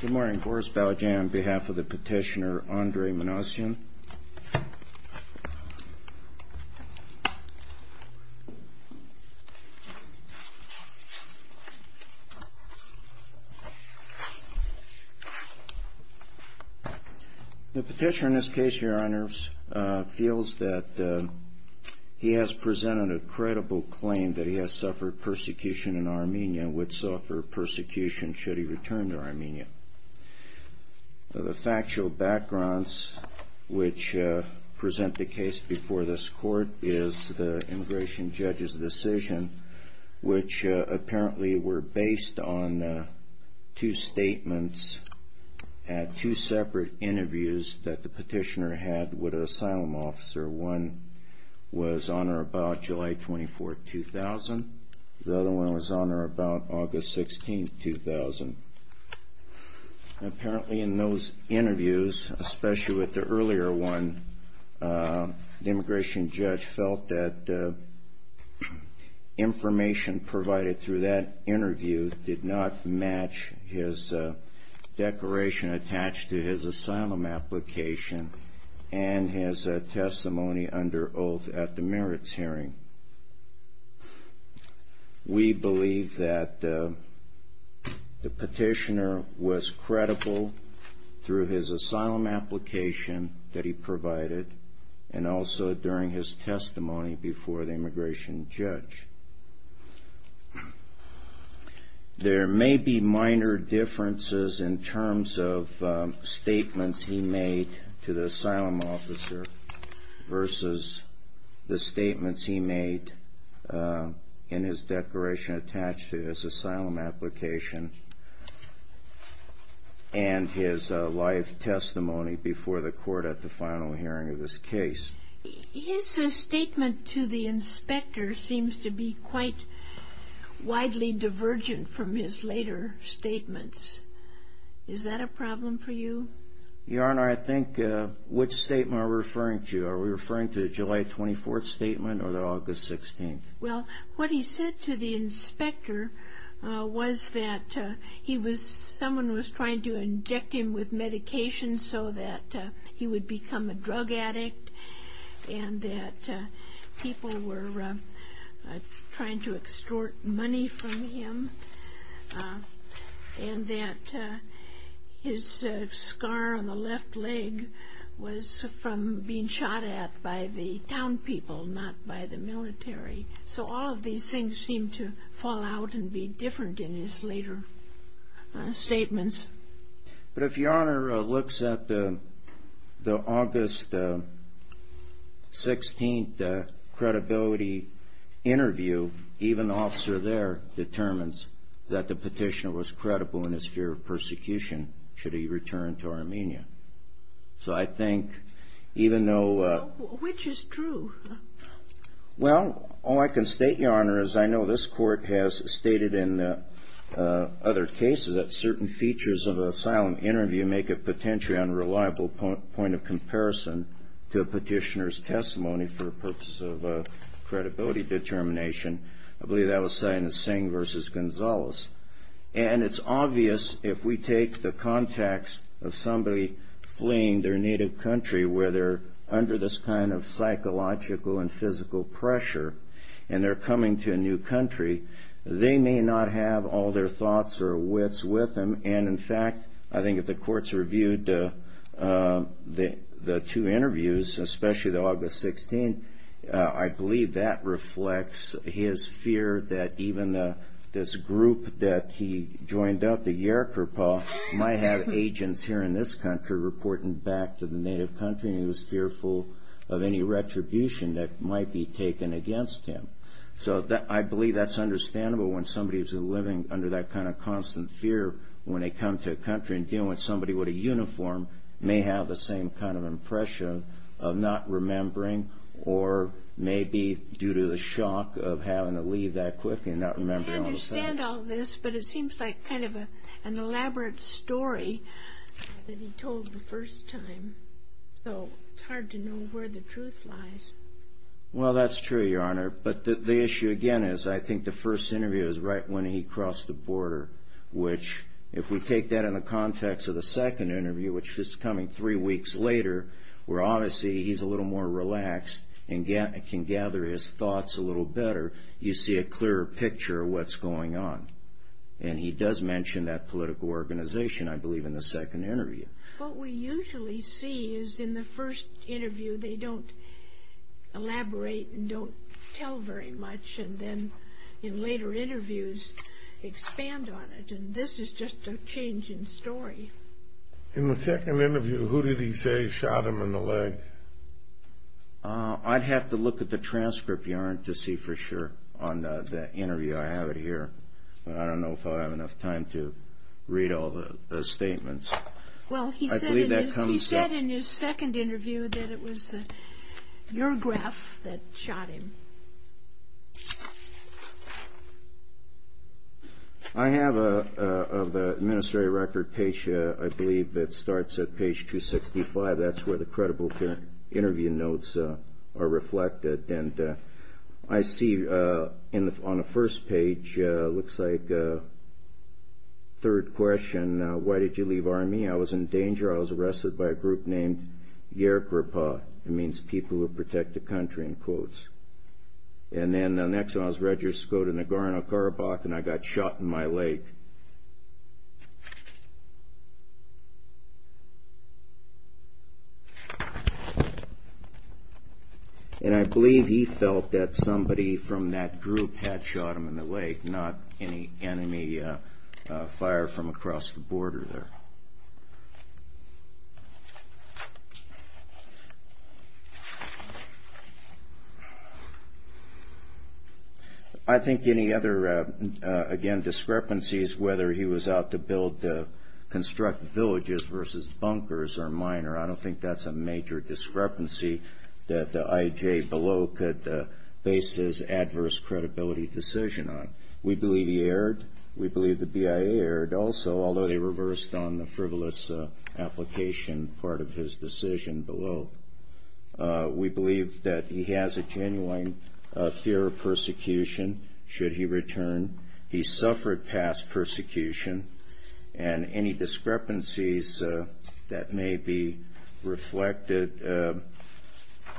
Good morning. Boris Baljan on behalf of the petitioner Andrei Manasyan. The petitioner in this case, Your Honor, feels that he has presented a credible claim that he has suffered persecution in Armenia and would suffer persecution should he return to Armenia. The factual backgrounds which present the case before this court is the immigration judge's decision, which apparently were based on two statements at two separate interviews that the petitioner had with an asylum officer. One was on or about July 24, 2000. The other one was on or about August 16, 2000. Apparently in those interviews, especially with the earlier one, the immigration judge felt that information provided through that interview did not match his declaration attached to his asylum application and his testimony under oath at the merits hearing. We believe that the petitioner was credible through his asylum application that he provided and also during his testimony before the immigration judge. There may be minor differences in terms of statements he made to the asylum officer versus the statements he made in his declaration attached to his asylum application and his life testimony before the court at the final hearing of this case. His statement to the inspector seems to be quite widely divergent from his later statements. Is that a problem for you? Your Honor, I think which statement are we referring to? Are we referring to the July 24th statement or the August 16th? Well, what he said to the inspector was that someone was trying to inject him with medication so that he would become a drug addict and that people were trying to extort money from him and that his scar on the left leg was from being shot at by the town people, not by the military. So all of these things seem to fall out and be different in his later statements. But if Your Honor looks at the August 16th credibility interview, even the officer there determines that the petitioner was credible in his fear of persecution should he return to Armenia. So I think even though... Which is true? Well, all I can state, Your Honor, is I know this court has stated in other cases that certain features of an asylum interview make a potentially unreliable point of comparison to a petitioner's testimony for the purpose of credibility determination. I believe that was Sina Singh v. Gonzalez. And it's obvious if we take the context of somebody fleeing their native country where they're under this kind of psychological and physical pressure and they're coming to a new country, they may not have all their thoughts or wits with them. And in fact, I think if the courts reviewed the two interviews, especially the August 16th, I believe that reflects his fear that even this group that he joined up, the Yerkurpa, might have agents here in this country reporting back to the native country and he was fearful of any retribution that might be taken against him. So I believe that's understandable when somebody is living under that kind of constant fear when they come to a country and dealing with somebody with a uniform may have the same kind of impression of not remembering or maybe due to the shock of having to leave that quickly and not remembering all the things. I understand all this, but it seems like kind of an elaborate story that he told the first time. So it's hard to know where the truth lies. Well, that's true, Your Honor. But the issue again is I think the first interview is right when he crossed the border, which if we take that in the context of the second interview, which is coming three weeks later, where obviously he's a little more relaxed and can gather his thoughts a little better, you see a clearer picture of what's going on. And he does mention that political organization, I believe, in the second interview. What we usually see is in the first interview they don't elaborate and don't tell very much and then in later interviews expand on it. And this is just a changing story. In the second interview, who did he say shot him in the leg? I'd have to look at the transcript, Your Honor, to see for sure on the interview I have it here. But I don't know if I'll have enough time to read all the statements. Well, he said in his second interview that it was your graph that shot him. I have an administrative record page, I believe, that starts at page 265. That's where the credible interview notes are reflected. And I see on the first page, it looks like, third question, why did you leave Army? I was in danger. I was arrested by a group named Yergerpa. It means people who protect the country, in quotes. And then the next time I was registered in Nagorno-Karabakh and I got shot in my leg. And I believe he felt that somebody from that group had shot him in the leg, not any enemy fire from across the border there. I think any other, again, discrepancies, whether he was out to build, construct villages versus bunkers are minor. I don't think that's a major discrepancy that the IJ below could base his adverse credibility decision on. We believe he erred. We believe the BIA erred also, although they reversed on the frivolous application part of his decision below. We believe that he has a genuine fear of persecution should he return. He suffered past persecution and any discrepancies that may be reflected,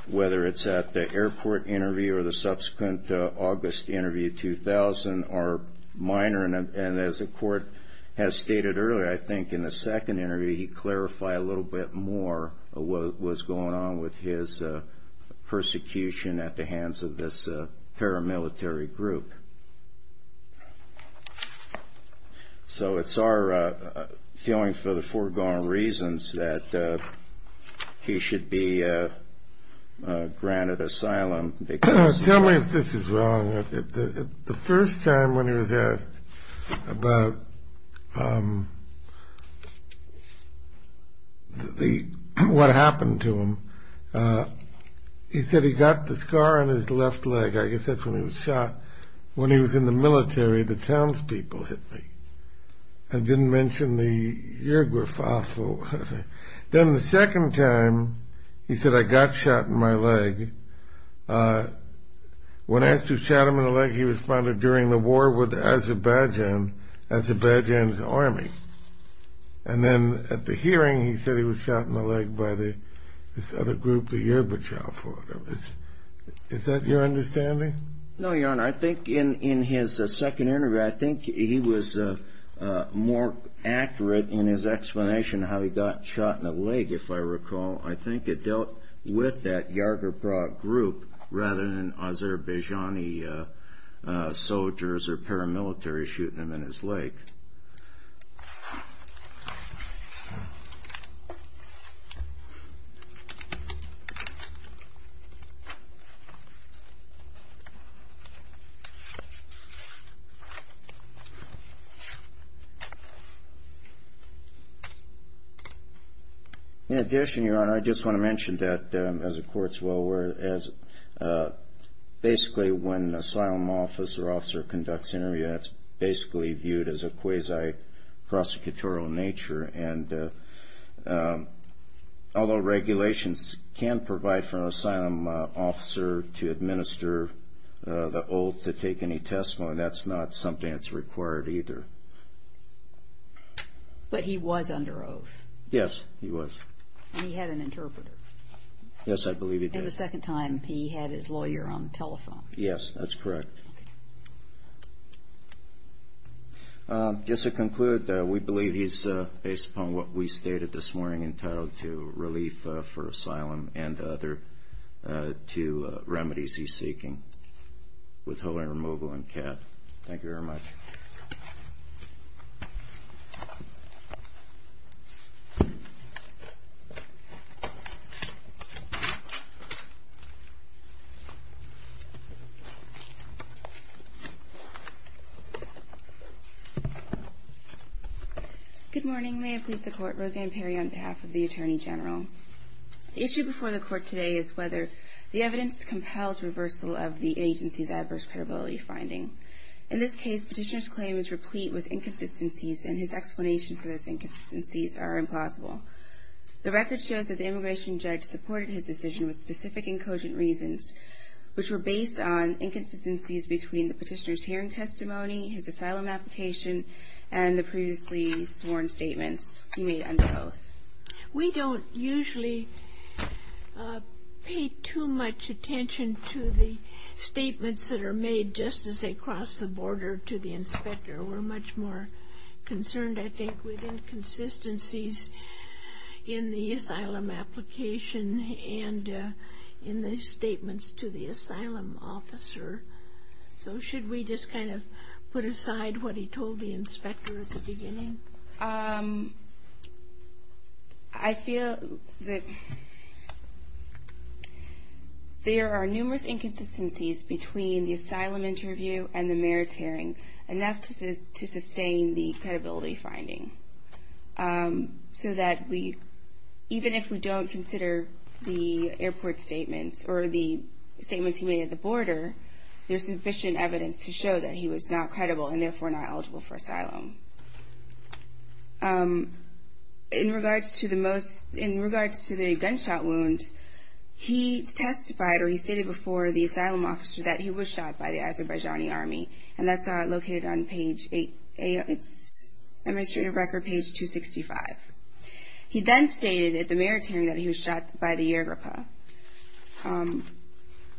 whether it's at the airport interview or the subsequent August interview 2000 are minor. And as the court has stated earlier, I think in the second interview, he clarified a little bit more of what was going on with his persecution at the hands of this paramilitary group. So it's our feeling for the foregone reasons that he should be granted asylum. Tell me if this is wrong. The first time when he was asked about what happened to him, he said he got the scar on his left leg. I guess that's when he was shot. When he was in the military, the townspeople hit me. I didn't mention the Yerba Faso. Then the second time, he said, I got shot in my leg. When asked who shot him in the leg, he responded, during the war with Azerbaijan, Azerbaijan's army. And then at the hearing, he said he was shot in the leg by this other group, the Yerba Chalfo. Is that your understanding? No, Your Honor. I think in his second interview, I think he was more accurate in his explanation of how he got shot in the leg, if I recall. I think it dealt with that Yerba Faso group rather than Azerbaijani soldiers or paramilitary shooting him in his leg. In addition, Your Honor, I just want to mention that, as the Court's well aware, basically when an asylum officer conducts an interview, it's basically viewed as a quasi-prosecutorial nature. Although regulations can provide for an asylum officer to administer the oath to take any testimony, that's not something that's required either. But he was under oath? Yes, he was. And he had an interpreter? Yes, I believe he did. And the second time, he had his lawyer on the telephone? Yes, that's correct. Just to conclude, we believe he's, based upon what we stated this morning, entitled to relief for asylum and the other two remedies he's seeking, withholding removal and cap. Thank you very much. Good morning. May it please the Court, Roseanne Perry on behalf of the Attorney General. The issue before the Court today is whether the evidence compels reversal of the agency's adverse credibility finding. In this case, Petitioner's claim is replete with inconsistencies, and his explanations for those inconsistencies are implausible. The record shows that the immigration judge supported his decision with specific and cogent reasons, which were based on inconsistencies between the Petitioner's hearing testimony, his asylum application, and the previously sworn statements he made under oath. We don't usually pay too much attention to the statements that are made just as they cross the border to the inspector. We're much more concerned, I think, with inconsistencies in the asylum application and in the statements to the asylum officer. So should we just kind of put aside what he told the inspector at the beginning? I feel that there are numerous inconsistencies between the asylum interview and the mayor's hearing, enough to sustain the credibility finding, so that even if we don't consider the airport statements or the statements he made at the border, there's sufficient evidence to show that he was not credible and therefore not eligible for asylum. In regards to the gunshot wound, he testified, or he stated before the asylum officer, that he was shot by the Azerbaijani army, and that's located on page 8, it's administrative record page 265. He then stated at the mayor's hearing that he was shot by the Yirgapa.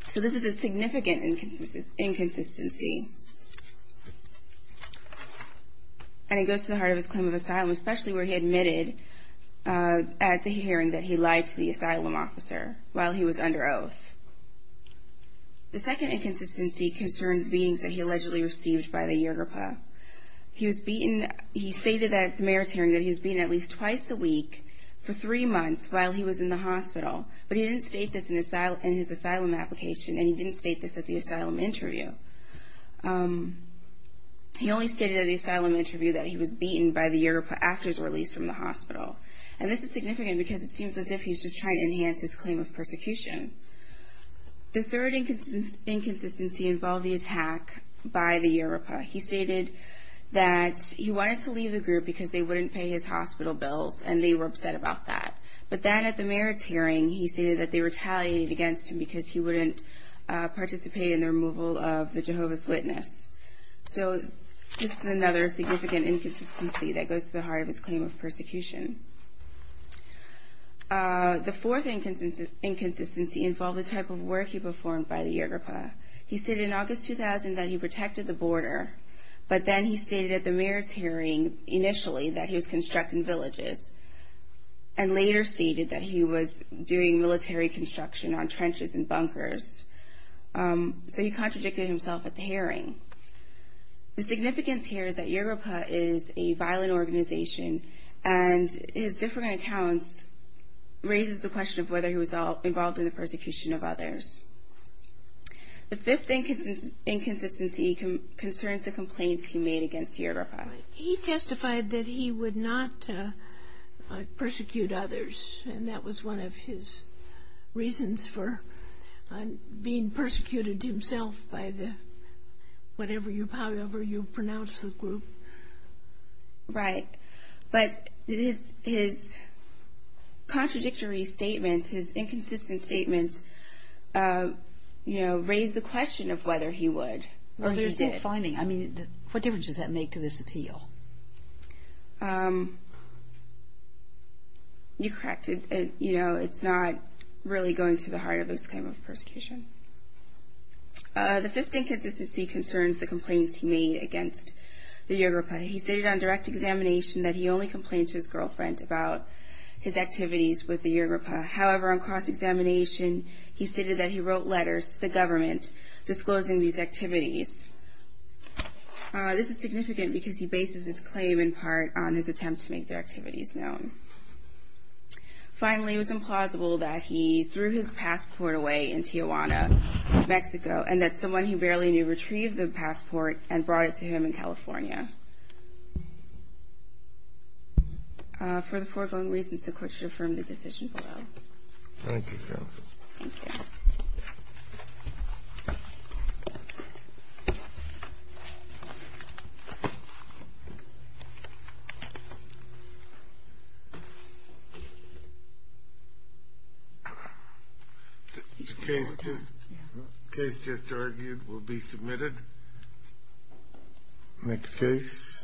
So this is a significant inconsistency, and it goes to the heart of his claim of asylum, especially where he admitted at the hearing that he lied to the asylum officer while he was under oath. The second inconsistency concerned beings that he allegedly received by the Yirgapa. He stated at the mayor's hearing that he was beaten at least twice a week for three months while he was in the hospital, but he didn't state this in his asylum application, and he didn't state this at the asylum interview. He only stated at the asylum interview that he was beaten by the Yirgapa after his release from the hospital, and this is significant because it seems as if he's just trying to enhance his claim of persecution. The third inconsistency involved the attack by the Yirgapa. He stated that he wanted to leave the group because they wouldn't pay his hospital bills, and they were upset about that. But then at the mayor's hearing, he stated that they retaliated against him because he wouldn't participate in the removal of the Jehovah's Witness. So this is another significant inconsistency that goes to the heart of his claim of persecution. The fourth inconsistency involved the type of work he performed by the Yirgapa. He said in August 2000 that he protected the border, but then he stated at the mayor's hearing initially that he was constructing villages, and later stated that he was doing military construction on trenches and bunkers. So he contradicted himself at the hearing. The significance here is that Yirgapa is a violent organization, and his different accounts raises the question of whether he was involved in the persecution of others. The fifth inconsistency concerns the complaints he made against Yirgapa. He testified that he would not persecute others, and that was one of his reasons for being persecuted himself by the whatever you pronounce the group. Right, but his contradictory statements, his inconsistent statements, you know, raise the question of whether he would. What difference does that make to this appeal? You're correct. You know, it's not really going to the heart of his claim of persecution. The fifth inconsistency concerns the complaints he made against the Yirgapa. He stated on direct examination that he only complained to his girlfriend about his activities with the Yirgapa. However, on cross-examination, he stated that he wrote letters to the government disclosing these activities. This is significant because he bases his claim in part on his attempt to make their activities known. Finally, it was implausible that he threw his passport away in Tijuana, Mexico, and that someone he barely knew retrieved the passport and brought it to him in California. For the foregoing reasons, the Court should affirm the decision below. Thank you, Justice. Thank you. Thank you. The case just argued will be submitted. Next case.